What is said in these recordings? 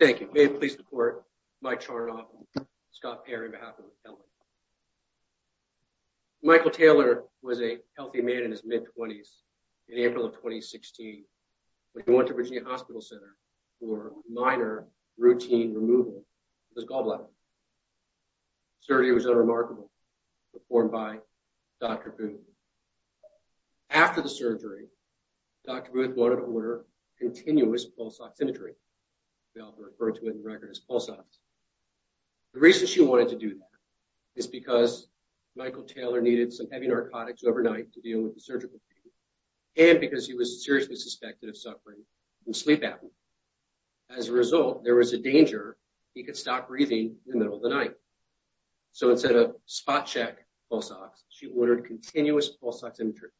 Thank you. May it please the court, Mike Charnoff and Scott Perry on behalf of the family. Michael Taylor was a healthy man in his mid-20s in April of 2016 when he went to Virginia Hospital Center for minor routine removal of his gallbladder. Surgery was unremarkable performed by Dr. Booth. After the surgery, Dr. Booth wanted to order continuous pulse oximetry. The reason she wanted to do that is because Michael Taylor needed some heavy narcotics overnight to deal with the surgical pain and because he was seriously suspected of suffering from sleep apnea. As a result, there was a danger he could stop breathing in the middle of the night. So instead of spot check pulse ox, she ordered continuous pulse oximetry.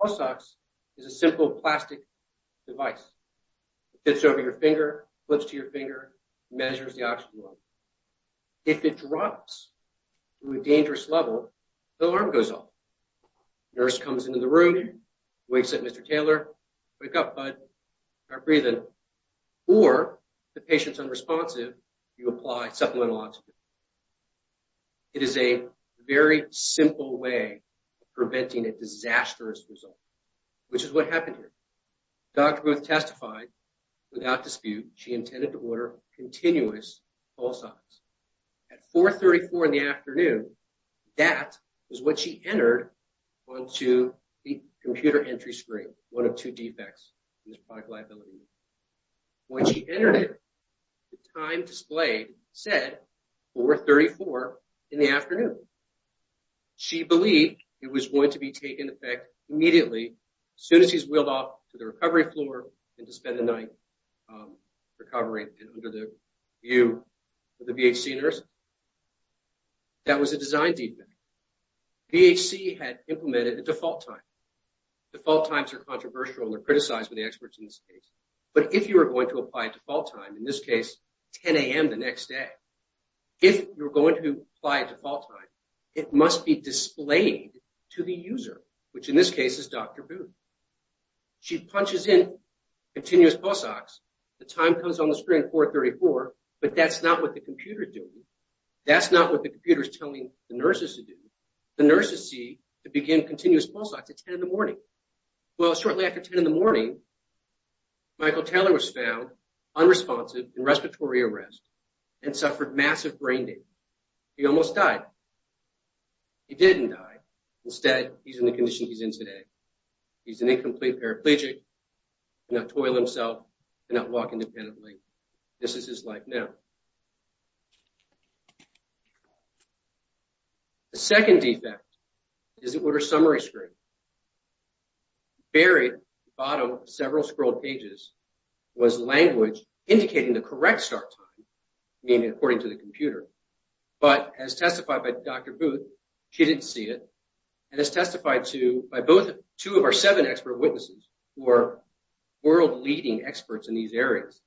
Pulse ox is a simple plastic device. It fits over your finger, flips to your finger, measures the oxygen level. If it drops to a dangerous level, the alarm goes off. The nurse comes into the room, wakes up Mr. Taylor, wake up bud, start breathing, or the patient's unresponsive, you apply supplemental oxygen. It is a very simple way of preventing a disastrous result, which is what happened here. Dr. Booth testified without dispute she intended to order continuous pulse ox. At 4.34 in the afternoon, that is what she entered onto the computer entry screen, one of two defects in his product liability. When she entered it, the time displayed said 4.34 in the afternoon. She believed it was going to be taken effect immediately as soon as he's wheeled off to the recovery floor and to design deepening. VHC had implemented a default time. Default times are controversial and are criticized by the experts in this case. But if you are going to apply a default time, in this case 10 a.m. the next day, if you're going to apply a default time, it must be displayed to the user, which in this case is Dr. Booth. She punches in continuous pulse ox. The time comes on the computer. That's not what the computer is telling the nurses to do. The nurses see to begin continuous pulse ox at 10 in the morning. Shortly after 10 in the morning, Michael Taylor was found unresponsive in respiratory arrest and suffered massive brain damage. He almost died. He didn't die. Instead, he's in the condition he's in today. He's an incomplete paraplegic. He cannot toil himself and not walk independently. This is his life now. The second defect is the order summary screen. Buried at the bottom of several scrolled pages was language indicating the correct start time, meaning according to the computer. But as testified by Dr. Booth, she didn't see it. And as testified by two of our seven expert witnesses who are world leading experts in these areas,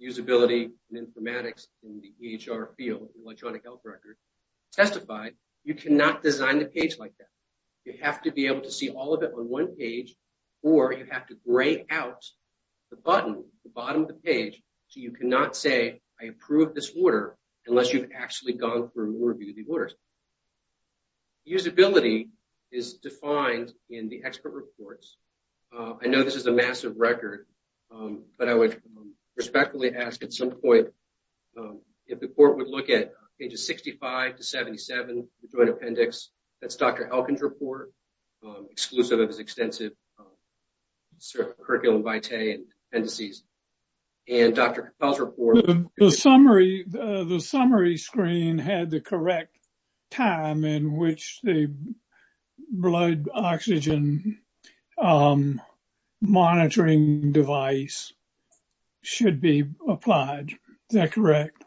usability and informatics in the EHR field, electronic health record, testified, you cannot design the page like that. You have to be able to see all of it on one page, or you have to gray out the button at the bottom of the page so you cannot say, I approve this order, unless you've actually gone through and reviewed the orders. Usability is defined in the expert reports. I know this is a massive record, but I would respectfully ask at some point if the court would look at pages 65 to 77, the joint appendix. That's Dr. Elkins' report, exclusive of his extensive curriculum vitae and appendices. And Dr. Capel's report- The summary screen had the correct time in which the blood oxygen monitoring device should be applied. Is that correct?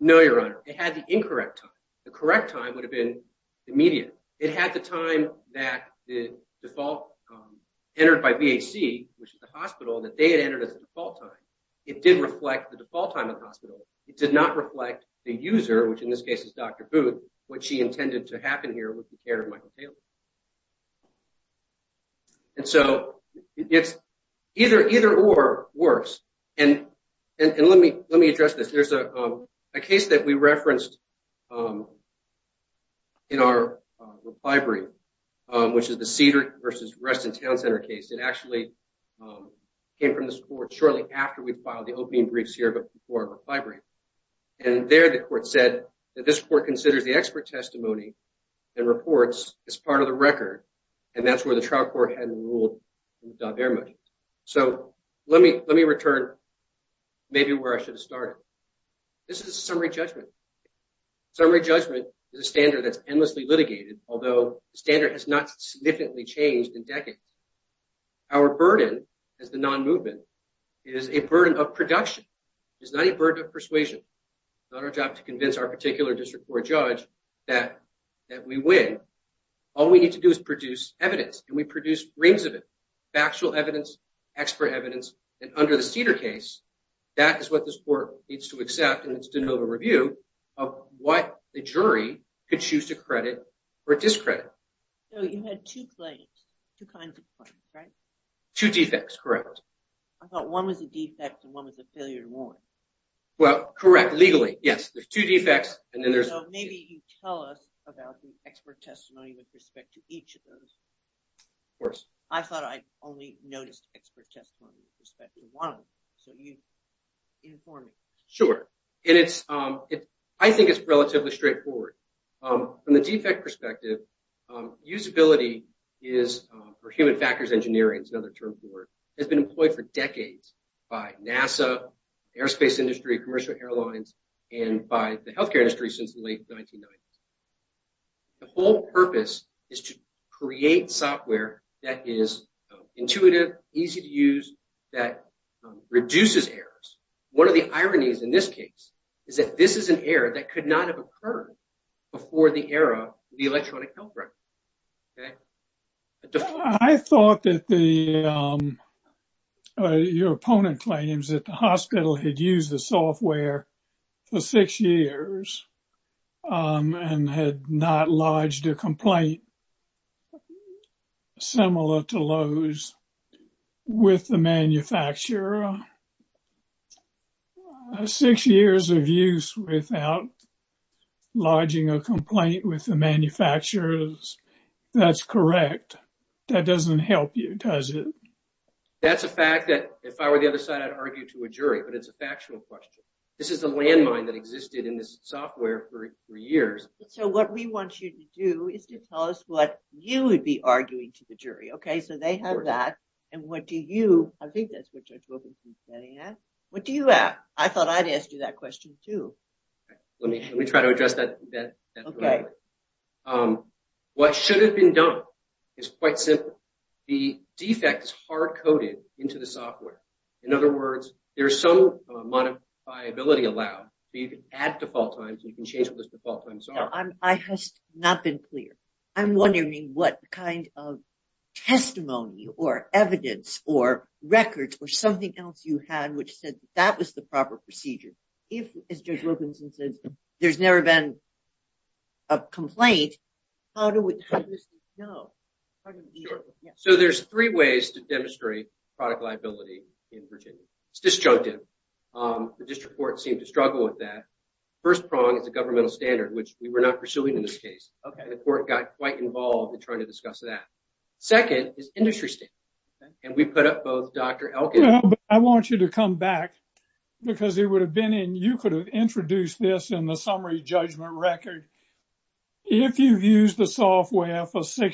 No, Your Honor. It had the incorrect time. The correct time would have been immediate. It had the time that the default entered by BAC, which is the hospital, that they had entered as the default time. It did reflect the default time of the hospital. It did not reflect the user, which in this case is Dr. Booth, what she intended to happen here with the care of Michael Taylor. And so, it's either or worse. And let me address this. There's a case that we referenced in our reply brief, which is the Cedar versus Reston Town Center case. It actually came from this court shortly after we filed the opening briefs here, but before our reply brief. And there, the court said that this court considers the expert testimony and reports as part of the record. And that's where the trial court hadn't ruled very much. So, let me return maybe where I should have started. This is a summary judgment. Summary judgment is a standard that's endlessly litigated, although the standard has not significantly changed in decades. Our burden as the non-movement is a burden of production. It is not a burden of persuasion. It's not our job to convince our particular district court judge that we win. All we need to do is produce evidence, and we produce rings of it, factual evidence, expert evidence. And under the Cedar case, that is what this court needs to accept in its de novo review of what the jury could choose to credit or discredit. So, you had two claims, two kinds of claims, right? Two defects, correct. I thought one was a defect and one was a failure to warrant. Well, correct. Legally, yes. There's two defects, and then there's... So, maybe you tell us about the expert testimony with respect to each of those. Of course. I thought I only noticed expert testimony with respect to one of them, so you inform me. Sure. I think it's relatively straightforward. From the defect perspective, usability is, or human factors engineering is another term for it, has been employed for decades by NASA, the airspace industry, commercial airlines, and by the healthcare industry since the late 1990s. The whole purpose is to create software that is intuitive, easy to use, that reduces errors. One of the ironies in this case is that this is an error that could not have occurred before the era of the electronic health record, okay? I thought that your opponent claims that hospital had used the software for six years and had not lodged a complaint similar to those with the manufacturer. Six years of use without lodging a complaint with the manufacturers, that's correct. That doesn't help you, does it? That's a fact that if I were the other side, I'd argue to a jury, but it's a factual question. This is a landmine that existed in this software for years. So what we want you to do is to tell us what you would be arguing to the jury, okay? So they have that, and what do you, I think that's what Judge Wilkinson's betting at, what do you have? I thought I'd ask you that question too. Let me try to address that. What should have been done is quite simple. The defect is hard-coded into the software. In other words, there's some modifiability allowed, but you can add default times, you can change what those default times are. No, I have not been clear. I'm wondering what kind of testimony or evidence or records or something else you had which said that was the proper procedure. If, as Judge Wilkinson says, there's never been a complaint, how do we know? Sure. So there's three ways to demonstrate product liability in Virginia. It's disjunctive. The district court seemed to struggle with that. First prong is a governmental standard, which we were not pursuing in this case. The court got quite involved in trying to discuss that. Second is industry standard, and we put up both Dr. Elkins- I want you to come back because it would have been in, you could have introduced this in the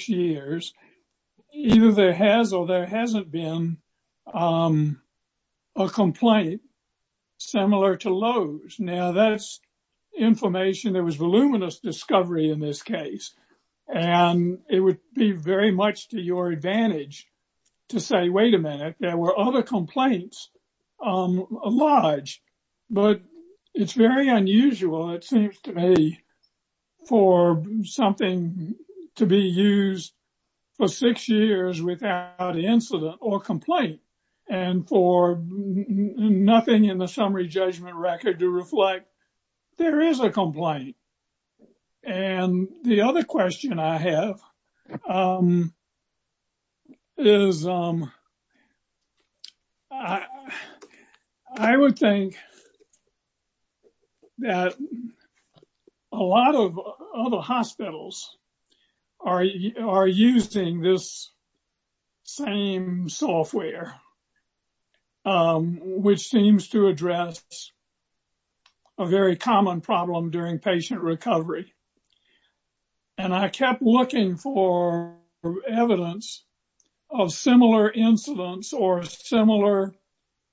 years. Either there has or there hasn't been a complaint similar to Lowe's. Now, that's information. There was voluminous discovery in this case. And it would be very much to your advantage to say, wait a minute, there were other complaints on Lodge. But it's very unusual, it seems to me, for something to be used for six years without incident or complaint. And for nothing in the summary judgment record to reflect there is a complaint. And the other question I have is, I would think that a lot of other hospitals are using this same software, which seems to address a very common problem during patient recovery. And I kept looking for evidence of similar incidents or similar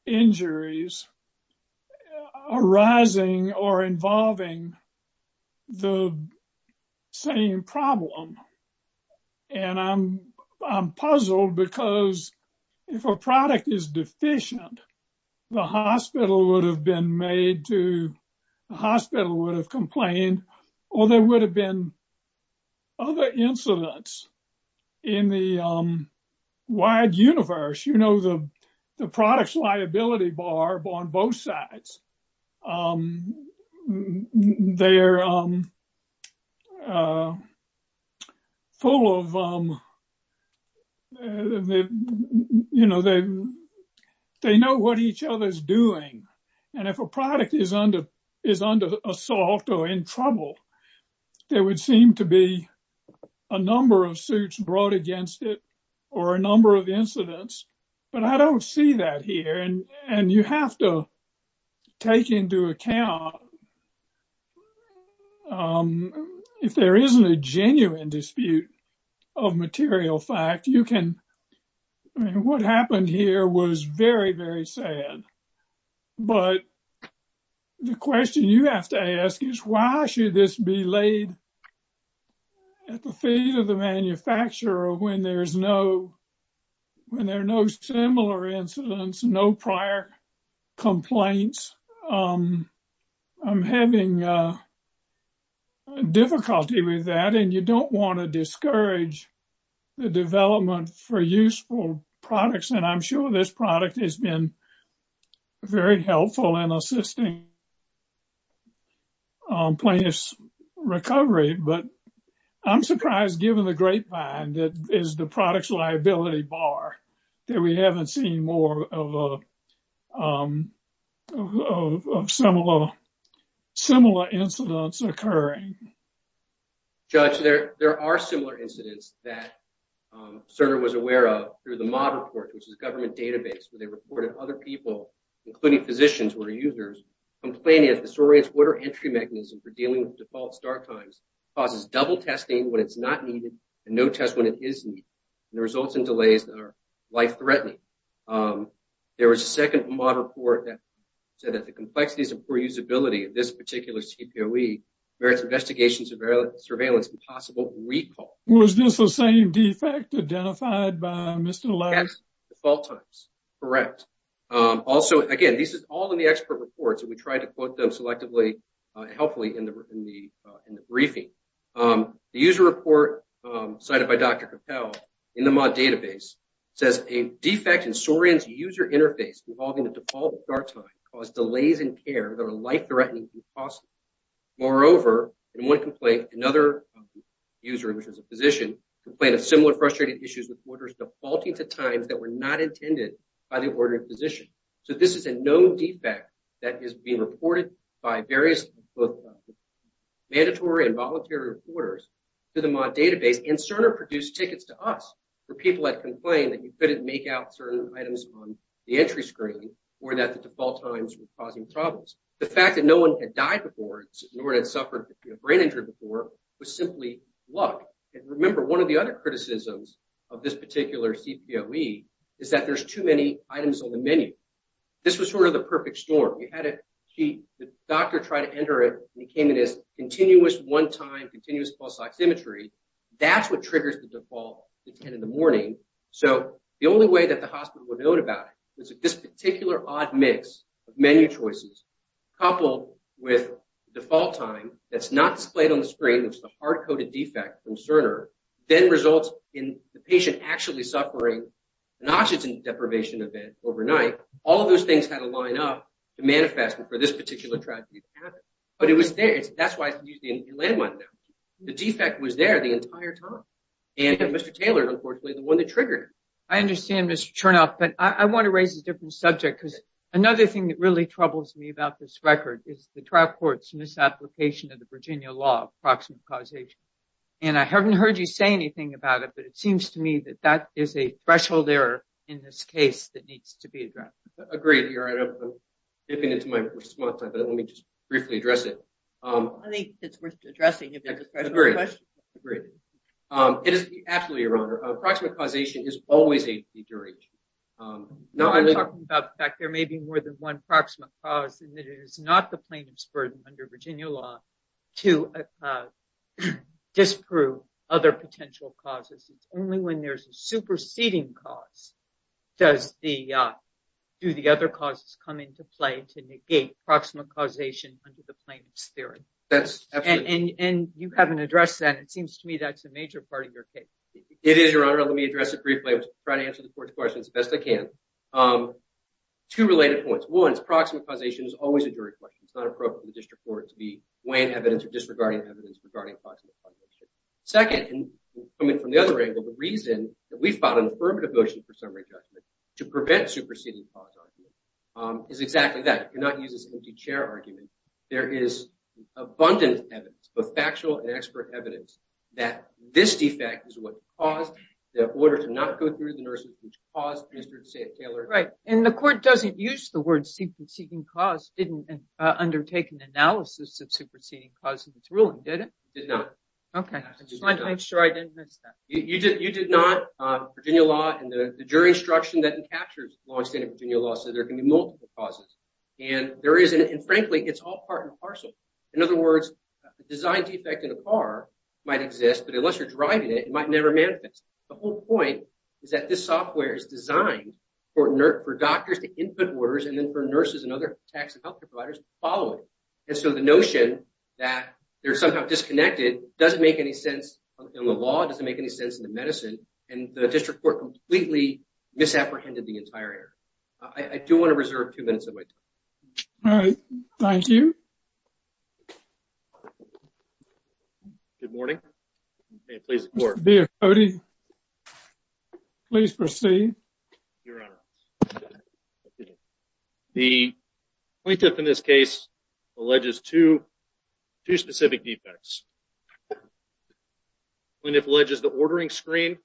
injuries arising or involving the same problem. And I'm puzzled because if a product is deficient, the hospital would have been made to- the hospital would have complained, or there would have been other incidents in the wide universe. You know, the product's liability bar on both sides. They're full of- they know what each other's doing. And if a product is under assault or in trouble, there would seem to be a number of suits brought against it, or a number of incidents. But I don't see that here. And you have to take into account, if there isn't a genuine dispute of material fact, you can- I mean, what happened here was very, very sad. But the question you have to ask is, why should this be laid at the feet of the manufacturer when there's no- when there are no similar incidents, no prior complaints? I'm having difficulty with that. And you don't want to discourage the development for useful products. And I'm sure this product has been very helpful in assisting in plaintiff's recovery. But I'm surprised, given the grapevine that is the product's liability bar, that we haven't seen more of similar incidents occurring. Judge, there are similar incidents that Cerner was aware of through the MOD report, which is government database, where they reported other people, including physicians who are users, complaining of disoriented water entry mechanism for dealing with default start times, causes double testing when it's not needed, and no test when it is needed, and the results in delays that are life-threatening. There was a second MOD report that said that the complexities of poor usability of this particular CPOE merits investigation, surveillance, and possible recall. Was this the same defect identified by Mr. Laird? Yes, default times. Correct. Also, again, this is all in the expert reports, and we tried to quote them selectively, helpfully, in the briefing. The user report cited by Dr. Capel in the MOD database says, a defect in Sorin's user interface involving the default start time caused delays in care that are life-threatening and costly. Moreover, in one complaint, another user, which is a physician, complained of similar frustrated issues with orders defaulting to times that were not intended by the ordered physician. So this is a known defect that is being reported by various both mandatory and voluntary reporters to the MOD database, and Cerner produced tickets to us for people that complained that you couldn't make out certain items on the entry screen, or that the default times were causing problems. The fact that no one had died before, nor had suffered a brain injury before, was simply luck. And remember, one of the other criticisms of this particular CPOE is that there's too many items on the menu. This was sort of the perfect storm. You had a key, the doctor tried to enter it, and it came in as continuous one-time, continuous pulse oximetry. That's what triggers the default at 10 in the morning. So the only way that the hospital would have known about it was this particular odd mix of menu choices, coupled with default time that's not displayed on the screen, which is the hard-coded defect from Cerner, then results in the patient actually suffering an oxygen deprivation event overnight. All of those things had to line up to manifest before this particular tragedy happened. But it was there. That's why it's used in landmine damage. The defect was there the entire time. And Mr. Taylor, unfortunately, is the one that triggered it. I understand, Mr. Chernoff, but I want to raise a different subject because another thing that really troubles me about this record is the trial court's misapplication of the Virginia law of proximate causation. And I haven't heard you say anything about it, but it seems to me that that is a threshold error in this case that needs to be addressed. Agreed, Your Honor. I'm dipping into my response time, but let me just briefly address it. I think it's worth addressing if there's a threshold question. Agreed. It is absolutely, Your Honor, proximate causation is always a deterrent. Now, I'm talking about the fact there may be more than one proximate cause, and that it is not the plaintiff's burden under Virginia law to disprove other potential causes. It's only when there's a superseding cause do the other causes come into play to negate proximate causation under the plaintiff's theory. And you haven't addressed that. It seems to me that's a major part of your case. It is, Your Honor. Let me address it briefly. I'm trying to answer the court's questions as best I can. Two related points. One is proximate causation is always a jury question. It's not appropriate for the district court to be weighing evidence or disregarding evidence regarding proximate causation. Second, and coming from the other angle, the reason that we found an affirmative motion for summary judgment to prevent superseding cause argument is exactly that. You cannot use this empty chair argument. There is abundant evidence, both factual and expert evidence, that this defect is what caused the order to not go through the nursing home. And the court doesn't use the word superseding cause. It didn't undertake an analysis of superseding cause in its ruling, did it? It did not. Okay. I just wanted to make sure I didn't miss that. You did not. Virginia law and the jury instruction that encaptures long-standing Virginia law says there can be multiple causes. And frankly, it's all part and parcel. In other words, a design defect in a car might exist, but unless you're driving it, it might never manifest. The whole point is that this software is designed for doctors to input orders and then for nurses and other tax and health care providers to follow it. And so the notion that they're somehow disconnected doesn't make any sense in the law, doesn't make any sense in the medicine, and the district court completely misapprehended the entire error. I do want to reserve two minutes of my time. All right. Thank you. Okay. Good morning. Please. Please proceed. Your honor. The plaintiff in this case alleges two specific defects. Plaintiff alleges the ordering screen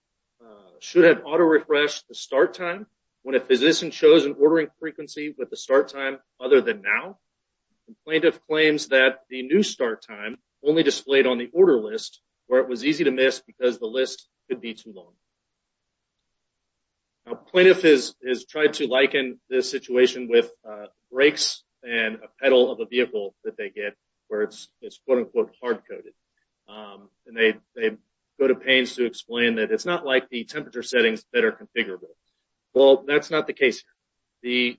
should have auto-refresh the start time when a physician shows an ordering frequency with the start time other than now. And plaintiff claims that the new start time only displayed on the order list where it was easy to miss because the list could be too long. Now plaintiff has tried to liken this situation with brakes and a pedal of a vehicle that they get where it's quote unquote hard-coded. And they go to pains to explain that it's not like the temperature settings that are configurable. Well, that's not the case here.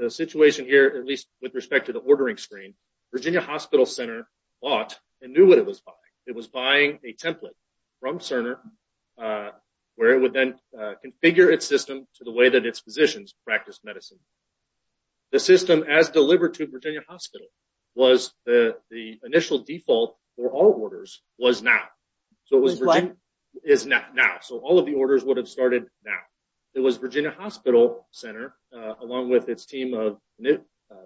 The situation here, at least with respect to the ordering screen, Virginia Hospital Center bought and knew what it was buying. It was buying a template from Cerner where it would then configure its system to the way that its physicians practice medicine. The system as delivered to Virginia all of the orders would have started now. It was Virginia Hospital Center along with its team of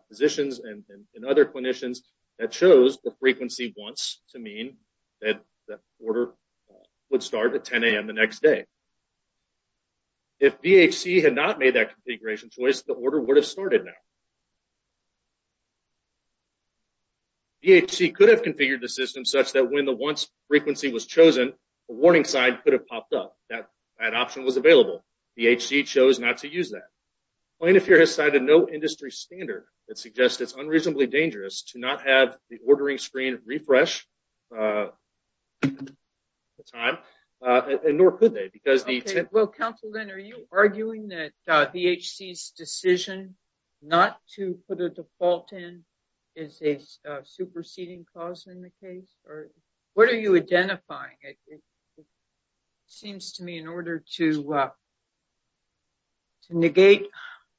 physicians and other clinicians that chose the frequency once to mean that that order would start at 10 a.m. the next day. If VHC had not made that configuration choice, the order would have started now. VHC could have configured the system such that when the once frequency was chosen, a warning sign could have popped up. That option was available. VHC chose not to use that. Plaintiff here has cited no industry standard that suggests it's unreasonably dangerous to not have the ordering screen refresh the time and nor could they because the... Well, Councilman, are you arguing that VHC's decision not to put a default in is a superseding cause in the case? What are you identifying? It seems to me in order to negate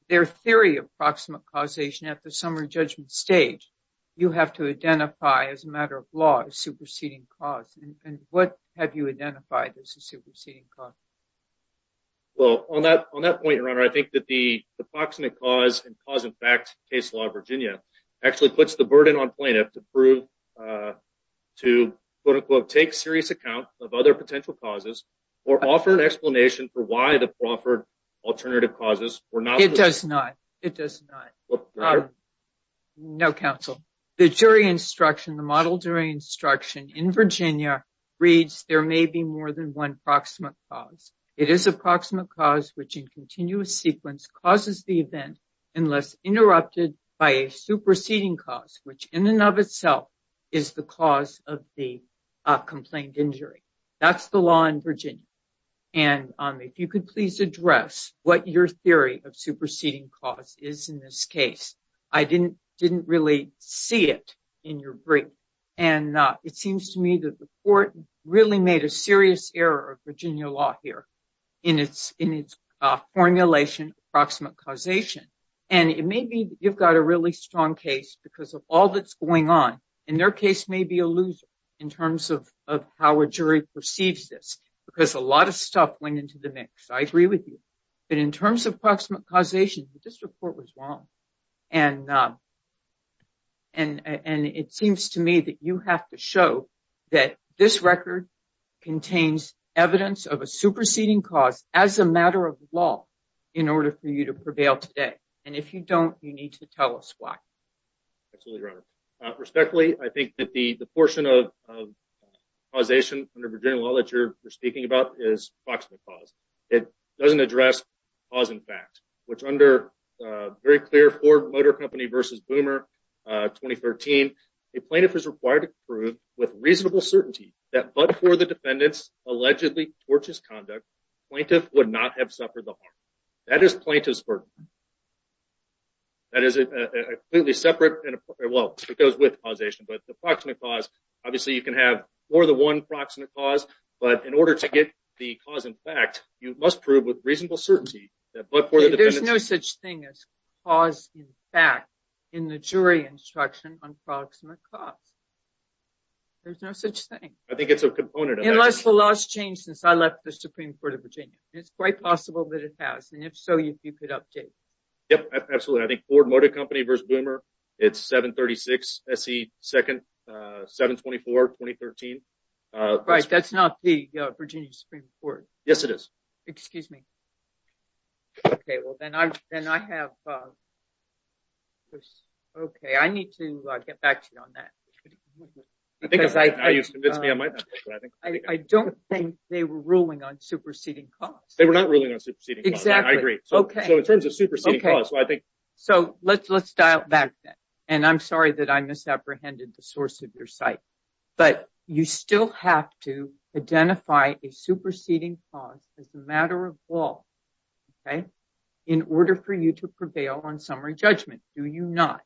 their theory of proximate causation at the summary judgment stage, you have to identify as a matter of law a superseding cause. What have you identified as a superseding cause? Well, on that point, Your Honor, I think that the proximate cause and cause-in-fact case law of to quote-unquote take serious account of other potential causes or offer an explanation for why the proffered alternative causes were not... It does not. It does not. No, Counsel. The jury instruction, the model jury instruction in Virginia reads there may be more than one proximate cause. It is a proximate cause which in continuous sequence causes the event unless interrupted by a superseding cause, which in and of itself is the cause of the complaint injury. That's the law in Virginia. And if you could please address what your theory of superseding cause is in this case. I didn't really see it in your brief. And it seems to me that the court really made a serious error of Virginia law here in its formulation proximate causation. And it may be you've got a really strong case because of all that's going on. And their case may be a loser in terms of how a jury perceives this because a lot of stuff went into the mix. I agree with you. But in terms of proximate causation, this report was wrong. And it seems to me that you have to show that this record contains evidence of a superseding cause as a today. And if you don't, you need to tell us why. Absolutely, Your Honor. Respectfully, I think that the portion of causation under Virginia law that you're speaking about is proximate cause. It doesn't address cause and fact, which under very clear Ford Motor Company versus Boomer 2013, a plaintiff is required to prove with reasonable certainty that but for the defendant's have suffered the harm. That is plaintiff's burden. That is a completely separate and well, it goes with causation. But the proximate cause, obviously, you can have more than one proximate cause. But in order to get the cause in fact, you must prove with reasonable certainty that but for the defendant, there's no such thing as cause in fact, in the jury instruction on proximate cause. There's no such thing. I think it's a component. Unless the laws change since I left the Supreme Court of Virginia, it's quite possible that it has. And if so, if you could update. Yep, absolutely. I think Ford Motor Company versus Boomer. It's 736. Se. Second, 724. 2013. Right. That's not the Virginia Supreme Court. Yes, it is. Excuse me. Okay, well, then I then I have. Okay, I need to get back to you on that. Because I think I don't think they were ruling on superseding costs. They were not ruling on superseding. Exactly. I agree. Okay. So in terms of superseding costs, I think. So let's dial back then. And I'm sorry that I misapprehended the source of your site. But you still have to identify a superseding cause as a matter of law. Okay. In order for you to prevail on summary judgment, do you not?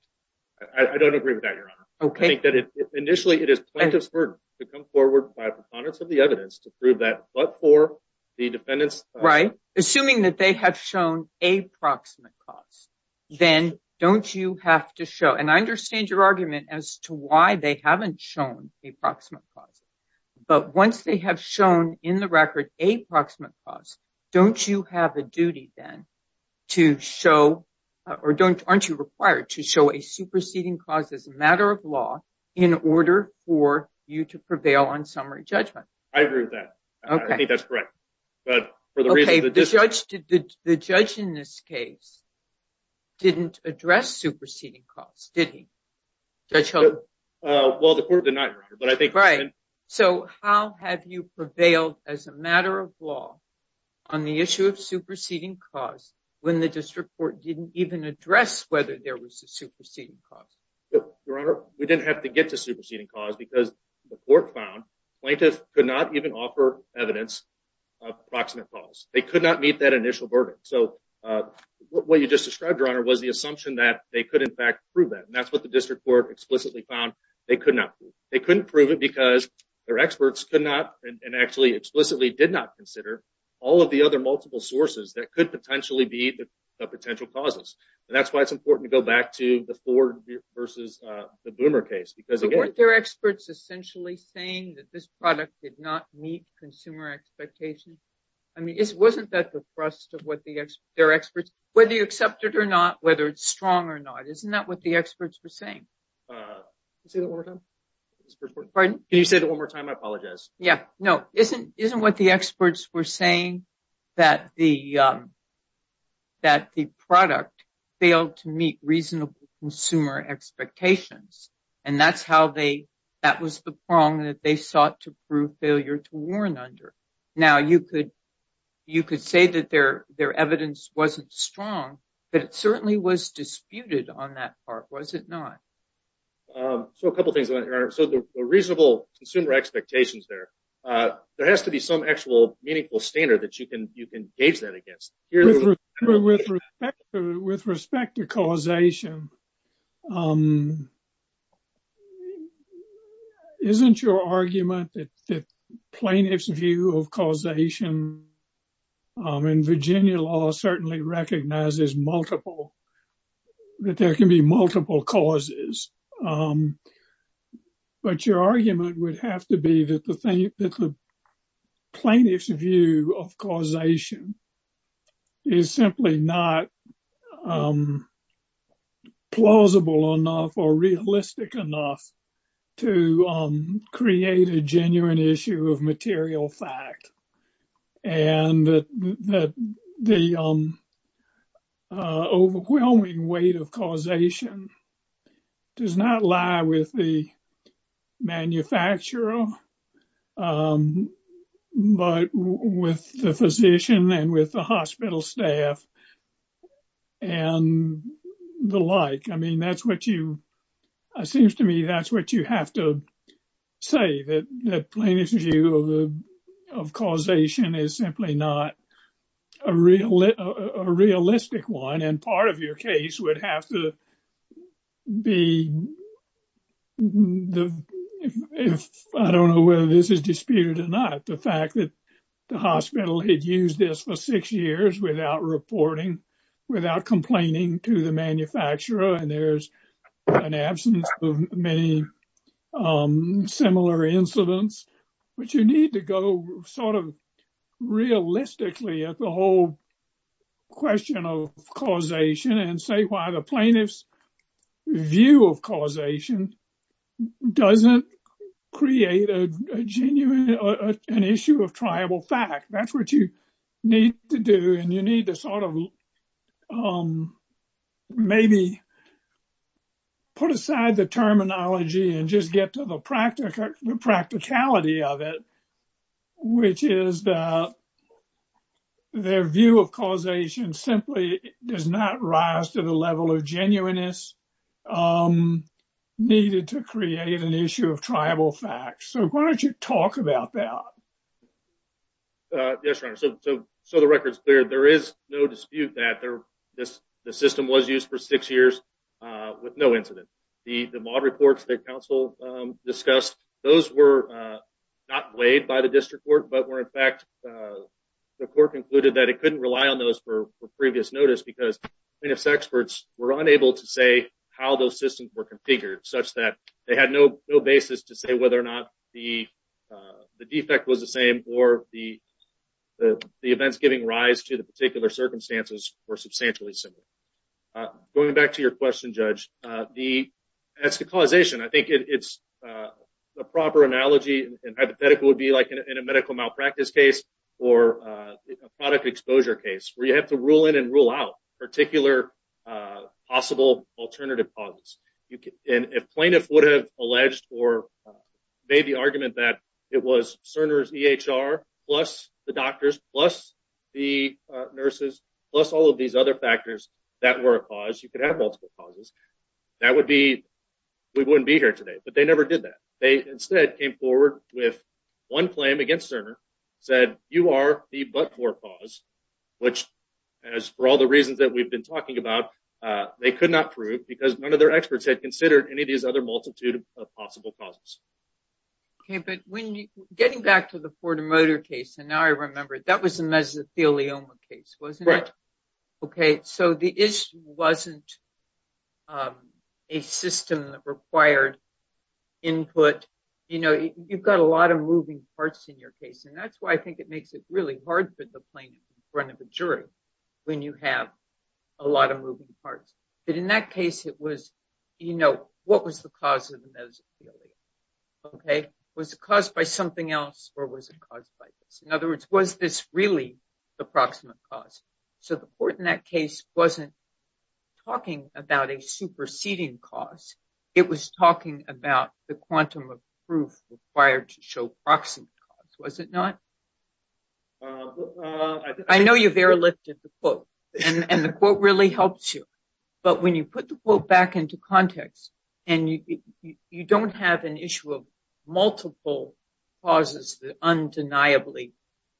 I don't agree with that, Your Honor. Okay. I think that initially, it is plaintiff's burden to come forward by preponderance of the evidence to prove that but for the defendant's. Right. Assuming that they have shown a proximate cause, then don't you have to show. And I understand your argument as to why they haven't shown a proximate cause. But once they have shown in the record a proximate cause, don't you have a duty then to show or don't aren't you required to show a superseding cause as a matter of law in order for you to prevail on summary judgment? I agree with that. Okay. I think that's correct. But for the reason that this judge did, the judge in this case didn't address superseding costs, did he? Judge Hogan? Well, the court did not. Right. So how have you prevailed as a matter of cause when the district court didn't even address whether there was a superseding cause? Well, Your Honor, we didn't have to get to superseding cause because the court found plaintiff could not even offer evidence of proximate cause. They could not meet that initial verdict. So what you just described, Your Honor, was the assumption that they could in fact prove that. And that's what the district court explicitly found they could not prove. They couldn't prove it because their experts could not and actually explicitly did not consider all of the other multiple sources that could potentially be the potential causes. And that's why it's important to go back to the Ford versus the Boomer case because again- Weren't their experts essentially saying that this product did not meet consumer expectations? I mean, wasn't that the thrust of what their experts, whether you accept it or not, whether it's strong or not, isn't that what the experts were saying? Can you say that one more time? Pardon? Can you say that one more time? I apologize. Yeah. No. Isn't what the experts were saying that the product failed to meet reasonable consumer expectations? And that was the prong that they sought to prove failure to warn under. Now, you could say that their evidence wasn't strong, but it certainly was disputed on that part, was it not? So a couple of things, Your Honor. So the consumer expectations there, there has to be some actual meaningful standard that you can gauge that against. With respect to causation, isn't your argument that plaintiff's view of causation in Virginia law certainly recognizes multiple, that there can be multiple causes. But your argument would have to be that the plaintiff's view of causation is simply not plausible enough or realistic enough to create a genuine issue of material fact. And the overwhelming weight of causation does not lie with the manufacturer, but with the physician and with the hospital staff and the like. I mean, that's what you, it seems to me, that's what you have to say, that the plaintiff's view of causation is simply not a realistic one. And part of your case would have to be, I don't know whether this is disputed or not, the fact that the hospital had used this for six years without reporting, without complaining to the manufacturer, and there's an absence of many similar incidents. But you need to go sort of realistically at the whole question of causation and say why the plaintiff's view of causation doesn't create an issue of to do. And you need to sort of maybe put aside the terminology and just get to the practicality of it, which is that their view of causation simply does not rise to the level of genuineness needed to create an issue of tribal facts. So why don't you talk about that? Yes, Your Honor. So the record's clear. There is no dispute that the system was used for six years with no incident. The MAUD reports that counsel discussed, those were not weighed by the district court, but were in fact, the court concluded that it couldn't rely on those for previous notice because plaintiff's experts were unable to say how those systems were configured, such that they had no basis to say whether or not the defect was the same or the events giving rise to the particular circumstances were substantially similar. Going back to your question, Judge, as to causation, I think it's a proper analogy and hypothetical would be like in a medical malpractice case or a product exposure case where you have to rule in and rule out particular possible alternative causes. And if plaintiff would have alleged or made the argument that it was Cerner's EHR plus the doctors, plus the nurses, plus all of these other factors that were a cause, you could have multiple causes, that would be, we wouldn't be here today. But they never did that. They instead came forward with one claim against Cerner, said you are the but-for cause, which as for all the other experts had considered and it is other multitude of possible causes. Okay, but when getting back to the Ford Motor case, and now I remember it, that was a mesothelioma case, wasn't it? Okay, so the issue wasn't a system that required input. You know, you've got a lot of moving parts in your case, and that's why I think it makes it really hard for the plaintiff in front of a jury when you have a lot of moving parts. But in that case, it was, you know, what was the cause of the mesothelioma? Okay, was it caused by something else or was it caused by this? In other words, was this really the proximate cause? So the court in that case wasn't talking about a superseding cause, it was talking about the quantum of proof required to show proximate cause, was it not? I know you've airlifted the quote and the quote really helps you, but when you put the quote back into context and you don't have an issue of multiple causes that undeniably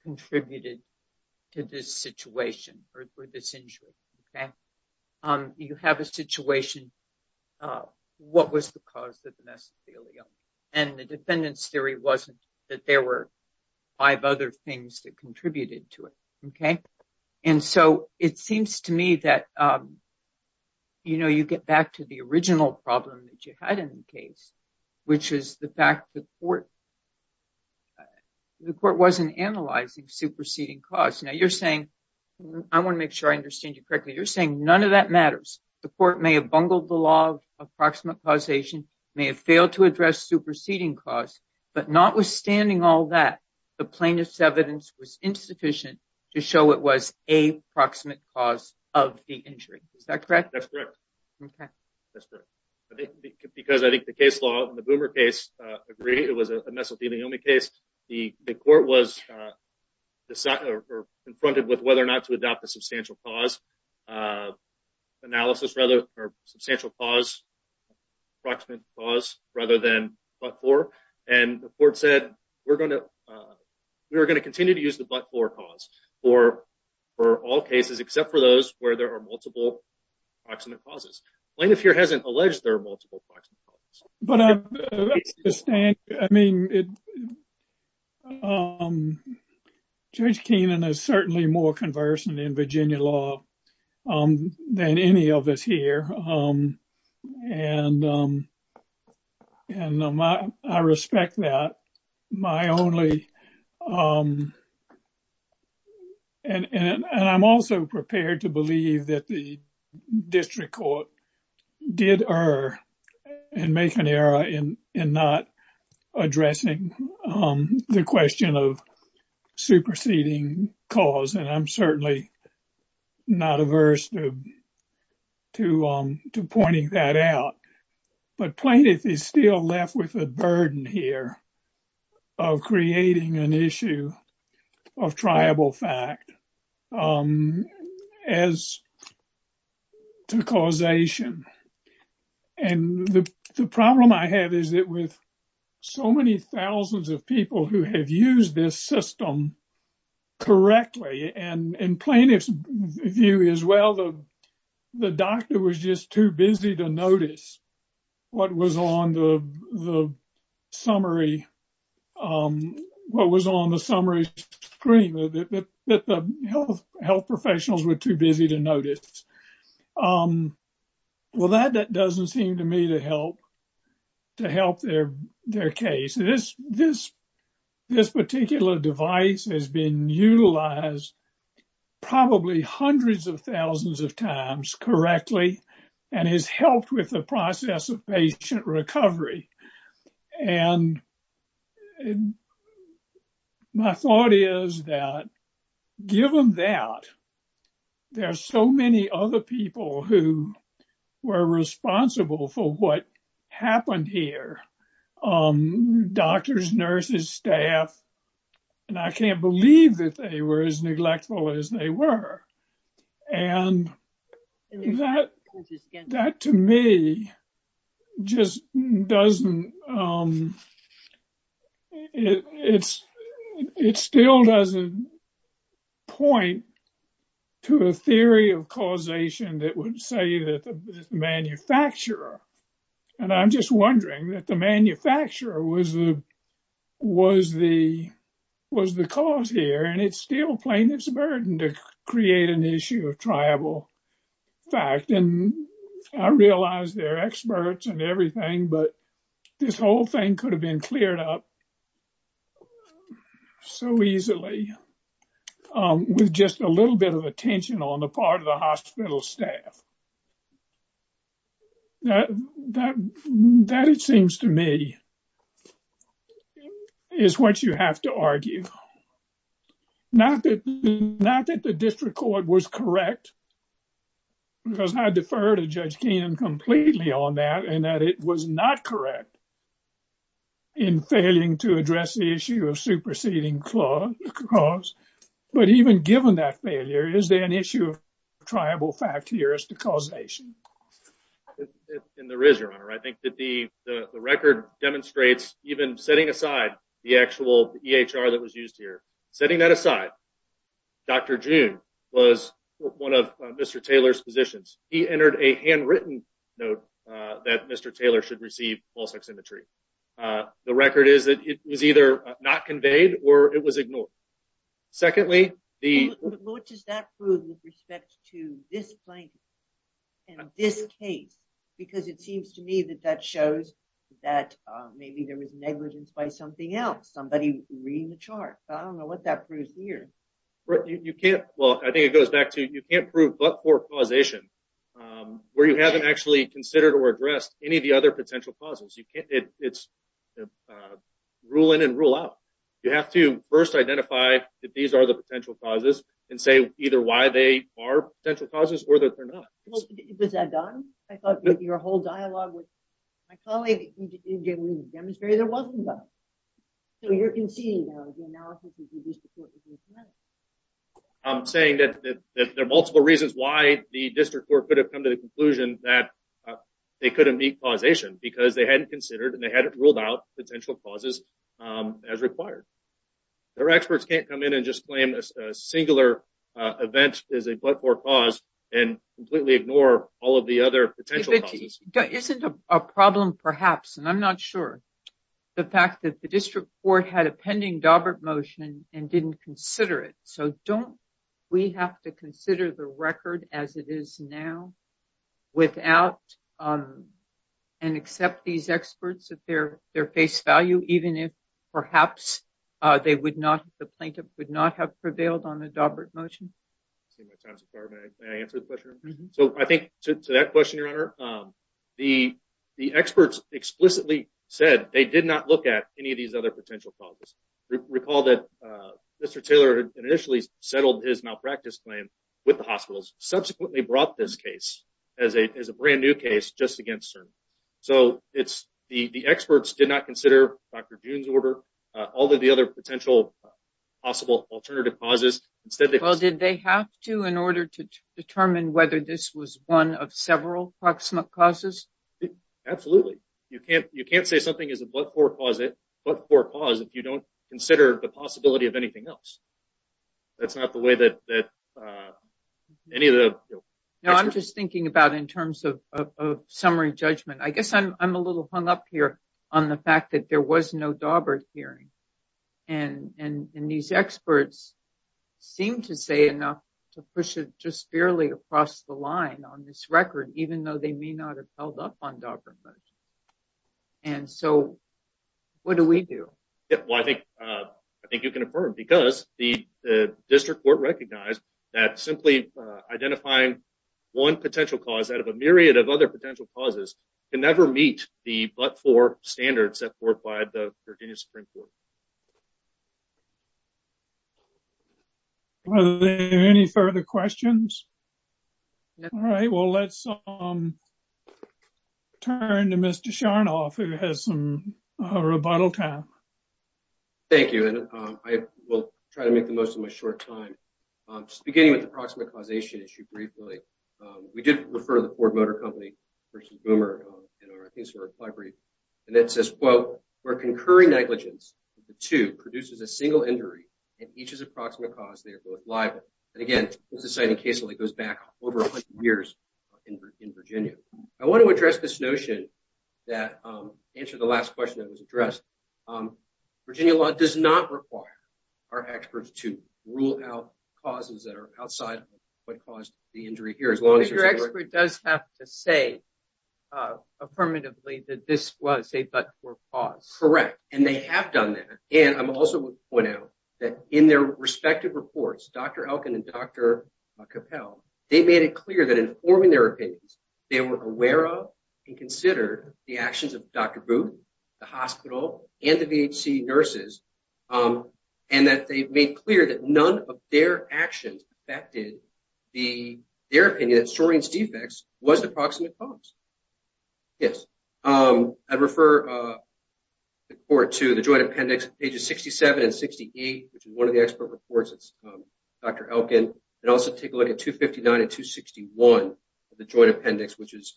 contributed to this situation or this injury, okay, you have a situation of what was the other things that contributed to it, okay? And so it seems to me that, you know, you get back to the original problem that you had in the case, which is the fact that the court wasn't analyzing superseding cause. Now you're saying, I want to make sure I understand you correctly, you're saying none of that matters. The court may have bungled the law of approximate causation, may have failed to address superseding cause, but notwithstanding all that, the plaintiff's evidence was insufficient to show it was a proximate cause of the injury. Is that correct? That's correct. Okay. That's correct. Because I think the case law and the Boomer case agree it was a mesothelioma case. The court was confronted with whether or not to adopt a substantial cause analysis rather, or substantial cause approximate cause rather than but-for. And the court said, we're going to continue to use the but-for cause for all cases except for those where there are multiple approximate causes. Plaintiff here hasn't alleged there are multiple approximate causes. But I mean, Judge Keenan is certainly more conversant in Virginia law than any of us here. And I respect that. And I'm also prepared to believe that the district court did err and make an error in not addressing the question of superseding cause. And I'm certainly not averse to pointing that out. But plaintiff is still left with a burden here of creating an issue of triable fact as to causation. And the problem I have is with so many thousands of people who have used this system correctly. And plaintiff's view is, well, the doctor was just too busy to notice what was on the summary screen, that the health professionals were too busy to notice. Well, that doesn't seem to me to help their case. This particular device has been utilized probably hundreds of thousands of times correctly and has helped with the process of patient recovery. And my thought is that given that there are so many other people who were responsible for what happened here, doctors, nurses, staff, and I can't believe that they were as neglectful as they were. And that, to me, just doesn't, it still doesn't point to a theory of causation that would say that the manufacturer, and I'm just wondering that the manufacturer was the cause here, and it's still plaintiff's burden to create an issue of triable fact. And I realize they're experts and everything, but this whole thing could have been cleared up so easily with just a little bit of attention on the part of the hospital staff. Now, that, it seems to me, is what you have to argue. Not that the district court was correct, because I defer to Judge Keenan completely on that, and that it was not correct in failing to address the issue of superseding clause. But even given that failure, is there issue of triable fact here as to causation? And there is, Your Honor. I think that the record demonstrates, even setting aside the actual EHR that was used here, setting that aside, Dr. June was one of Mr. Taylor's physicians. He entered a handwritten note that Mr. Taylor should receive pulse oximetry. The record is that it was either not conveyed or it was ignored. Secondly, the... What does that prove with respect to this plaintiff and this case? Because it seems to me that that shows that maybe there was negligence by something else, somebody reading the chart. I don't know what that proves here. You can't... Well, I think it goes back to you can't prove but-for causation where you haven't actually considered or addressed any of the other are the potential causes and say either why they are potential causes or that they're not. Well, was that done? I thought your whole dialogue with my colleague demonstrated there wasn't done. So you're conceding now that the analysis has reduced the court's... I'm saying that there are multiple reasons why the district court could have come to the conclusion that they couldn't meet causation because they hadn't considered and they hadn't come in and just claim a singular event is a but-for cause and completely ignore all of the other potential causes. Isn't a problem perhaps, and I'm not sure, the fact that the district court had a pending Dawbert motion and didn't consider it. So don't we have to consider the record as it is now without and accept these experts at their face value even if perhaps they would not have prevailed on the Dawbert motion? So I think to that question, Your Honor, the experts explicitly said they did not look at any of these other potential causes. Recall that Mr. Taylor initially settled his malpractice claim with the hospitals, subsequently brought this case as a brand new case just against CERN. So it's the experts did not consider Dr. June's order, all of the other potential possible alternative causes. Well, did they have to in order to determine whether this was one of several proximate causes? Absolutely. You can't say something is a but-for cause if you don't consider the possibility of anything else. That's not the way that any of the... No, I'm just thinking about in terms of summary judgment. I guess I'm a little hung up here on the fact that there was no Dawbert hearing. And these experts seem to say enough to push it just barely across the line on this record, even though they may not have held up on Dawbert. And so what do we do? Well, I think you can affirm because the district court recognized that simply identifying one potential cause out of a myriad of other potential causes can never meet the but-for standards set forth by the Virginia Supreme Court. Are there any further questions? All right. Well, let's turn to Mr. Sharnoff who has some rebuttal time. Thank you. And I will try to make the most of my short time. Just beginning with the proximate causation issue briefly. We did refer to the case from our library and it says, quote, where concurring negligence of the two produces a single injury and each is a proximate cause, they are both liable. And again, this is a case that goes back over a hundred years in Virginia. I want to address this notion that answer the last question that was addressed. Virginia law does not require our experts to rule out causes that are outside what caused the injury here. Your expert does have to say affirmatively that this was a but-for cause. Correct. And they have done that. And I'm also going to point out that in their respective reports, Dr. Elkin and Dr. Capel, they made it clear that in forming their opinions, they were aware of and considered the actions of Dr. Booth, the hospital and the VHC nurses. And that they've made clear that none of their actions affected the, their opinion that Soren's defects was the proximate cause. Yes. I'd refer the court to the joint appendix, pages 67 and 68, which is one of the expert reports. It's Dr. Elkin. And also take a look at 259 and 261 of the joint appendix, which is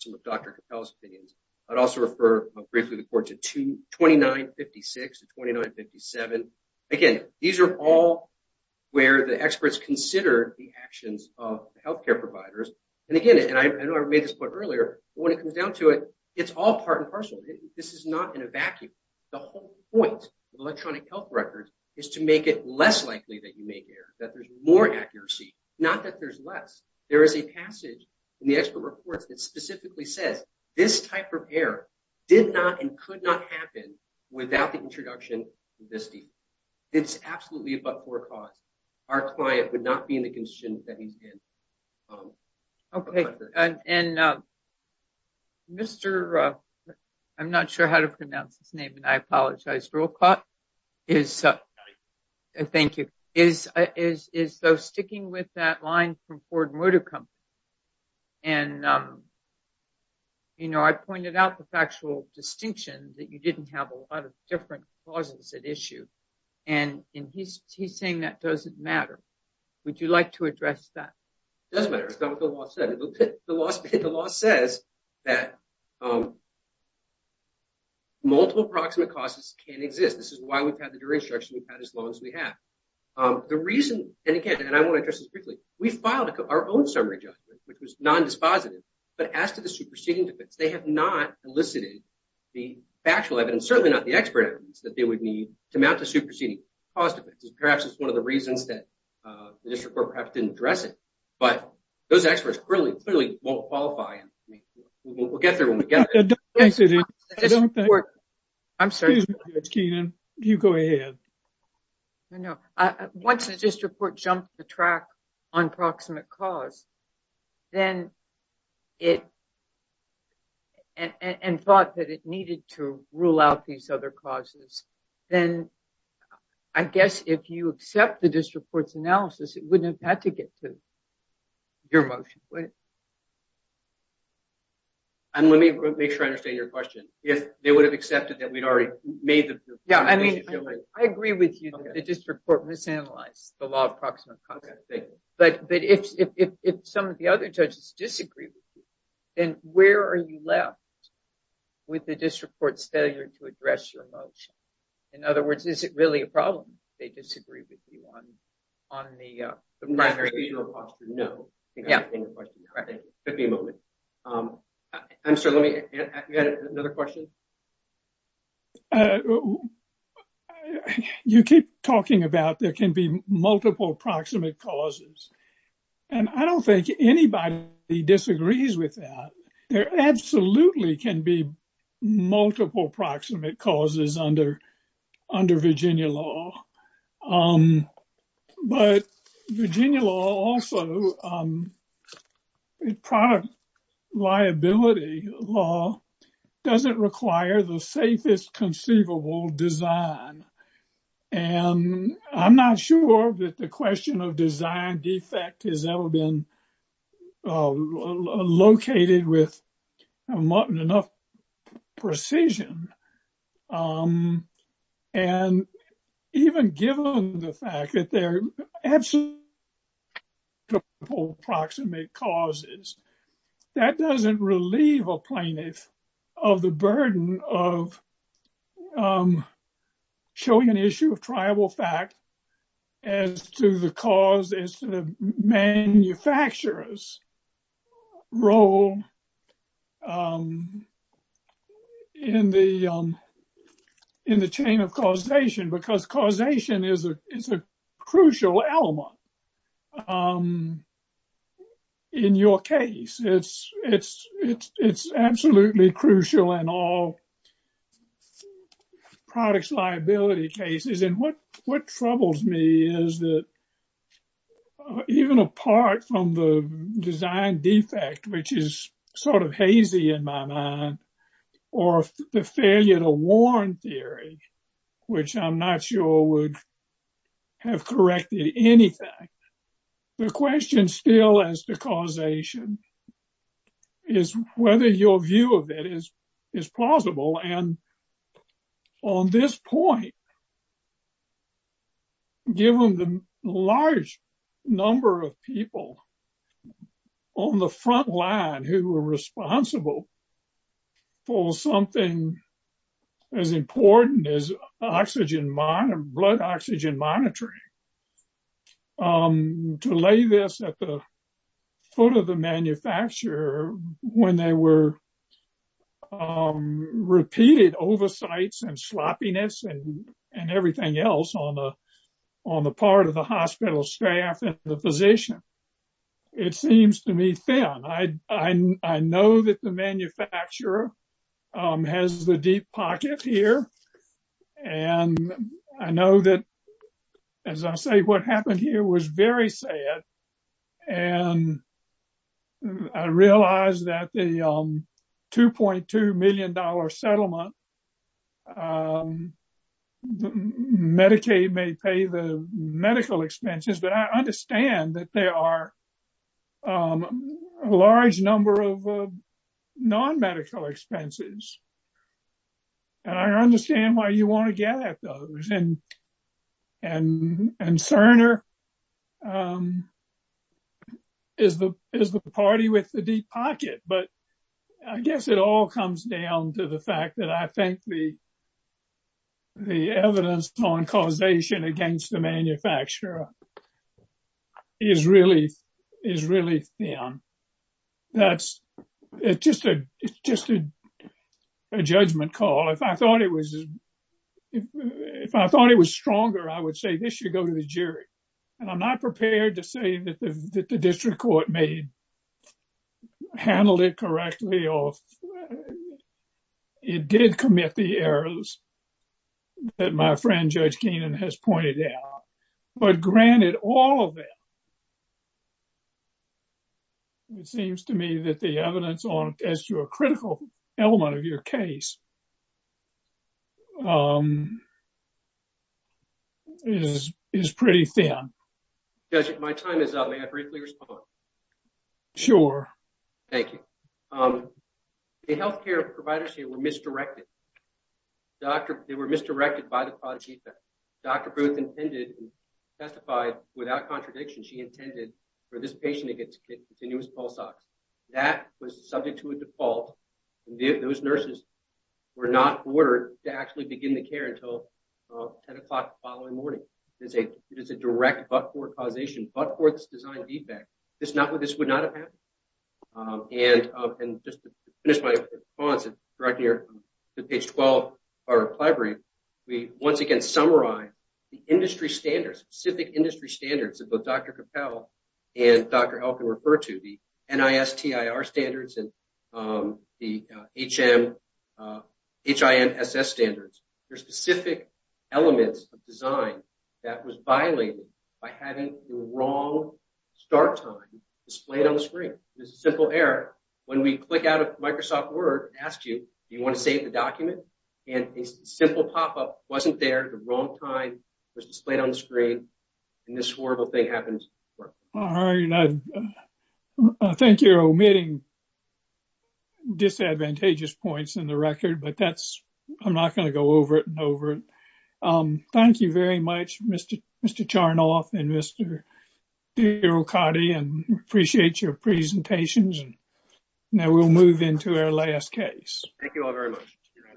some of Dr. Briefly, the court to 2956 to 2957. Again, these are all where the experts consider the actions of the healthcare providers. And again, and I know I made this point earlier, but when it comes down to it, it's all part and parcel. This is not in a vacuum. The whole point of electronic health records is to make it less likely that you make errors, that there's more accuracy, not that there's less. There is a passage in the expert reports that specifically says this type of error did not and could not happen without the introduction of this deed. It's absolutely about poor cause. Our client would not be in the condition that he's in. Okay. And, and Mr. I'm not sure how to pronounce his name. And I apologize. Rolcott is, thank you, is, is, is so sticking with that line from Ford Moodicum. And, you know, I pointed out the factual distinction that you didn't have a lot of different causes at issue. And he's saying that doesn't matter. Would you like to address that? It doesn't matter. It's not what the law said. The law says that multiple approximate causes can exist. This is why we've had the jury instruction we've had as long as we have. The reason, and again, and I want to address this briefly, we filed our own summary judgment, which was non-dispositive, but as to the they have not elicited the factual evidence, certainly not the expert evidence that they would need to mount a superseding cause defense. And perhaps it's one of the reasons that the district court perhaps didn't address it, but those experts clearly, clearly won't qualify. We'll get there when we get there. I'm sorry. You go ahead. No, no. Once the district court jumped the track on proximate cause, and thought that it needed to rule out these other causes, then I guess if you accept the district court's analysis, it wouldn't have had to get to your motion, would it? And let me make sure I understand your question. If they would have accepted that we'd already made the... Yeah, I mean, I agree with you that the district court misanalyzed the law of proximate cause. But if some of the other judges disagree with you, then where are you left with the district court's failure to address your motion? In other words, is it really a problem if they disagree with you on the primary? No, I think I understand your question. Give me a moment. I'm sorry, let me... You had another question? You keep talking about there can be multiple proximate causes. And I don't think anybody disagrees with that. There absolutely can be multiple proximate causes under Virginia law. But Virginia law also, product liability law, doesn't require the safest conceivable design. And I'm not sure that the question of design defect has ever been located with enough precision. And even given the fact that there are absolutely multiple proximate causes, that doesn't relieve a plaintiff of the burden of showing an issue of triable fact as to the cause, as to the manufacturer's role in the chain of causation. Because causation is a crucial element in your case. It's absolutely crucial in all products liability cases. And what troubles me is that even apart from the design defect, which is sort of hazy in my mind, or the failure to warn theory, which I'm not sure would have corrected anything, the question still as to causation is whether your view of it is plausible. And on this point, given the large number of people on the front line who were responsible for something as important as blood oxygen monitoring, to lay this at the foot of the manufacturer when there were repeated oversights and sloppiness and everything else on the part of the hospital staff and the manufacturer, has the deep pocket here. And I know that, as I say, what happened here was very sad. And I realized that the $2.2 million settlement, Medicaid may pay the medical expenses, but I understand that there are a large number of non-medical expenses. And I understand why you want to get at those. And Cerner is the party with the deep pocket. But I guess it all comes down to the fact that I think the question of whether or not it's plausible is really thin. It's just a judgment call. If I thought it was stronger, I would say, this should go to the jury. And I'm not prepared to say that the district court handled it correctly or it did commit the errors that my friend, Judge Keenan, has pointed out. But granted, all of them, it seems to me that the evidence as to a critical element of your case is pretty thin. Judge, my time is up. May I briefly respond? Sure. Thank you. The health care providers here were misdirected. They were misdirected by the product feedback. Dr. Booth intended and testified without contradiction. She intended for this patient to get continuous pulse ox. That was subject to a default. Those nurses were not ordered to actually begin the care until 10 o'clock the following morning. It is a direct but-for causation, but-for this design feedback. This would not have happened. And just to finish my response and direct here to page 12 of our reply brief, we once again summarize the industry standards, specific industry standards that both Dr. Capel and Dr. Elkin refer to, the NISTIR standards and the HIMSS standards. There are specific elements of design that was simple error. When we click out of Microsoft Word, it asks you, do you want to save the document? And a simple pop-up wasn't there at the wrong time, was displayed on the screen, and this horrible thing happens. All right. Thank you for omitting disadvantageous points in the record, but I'm not going to go over it and over it. Thank you very much, Mr. Charnoff and Mr. Okade, and appreciate your presentations. Now we'll move into our last case.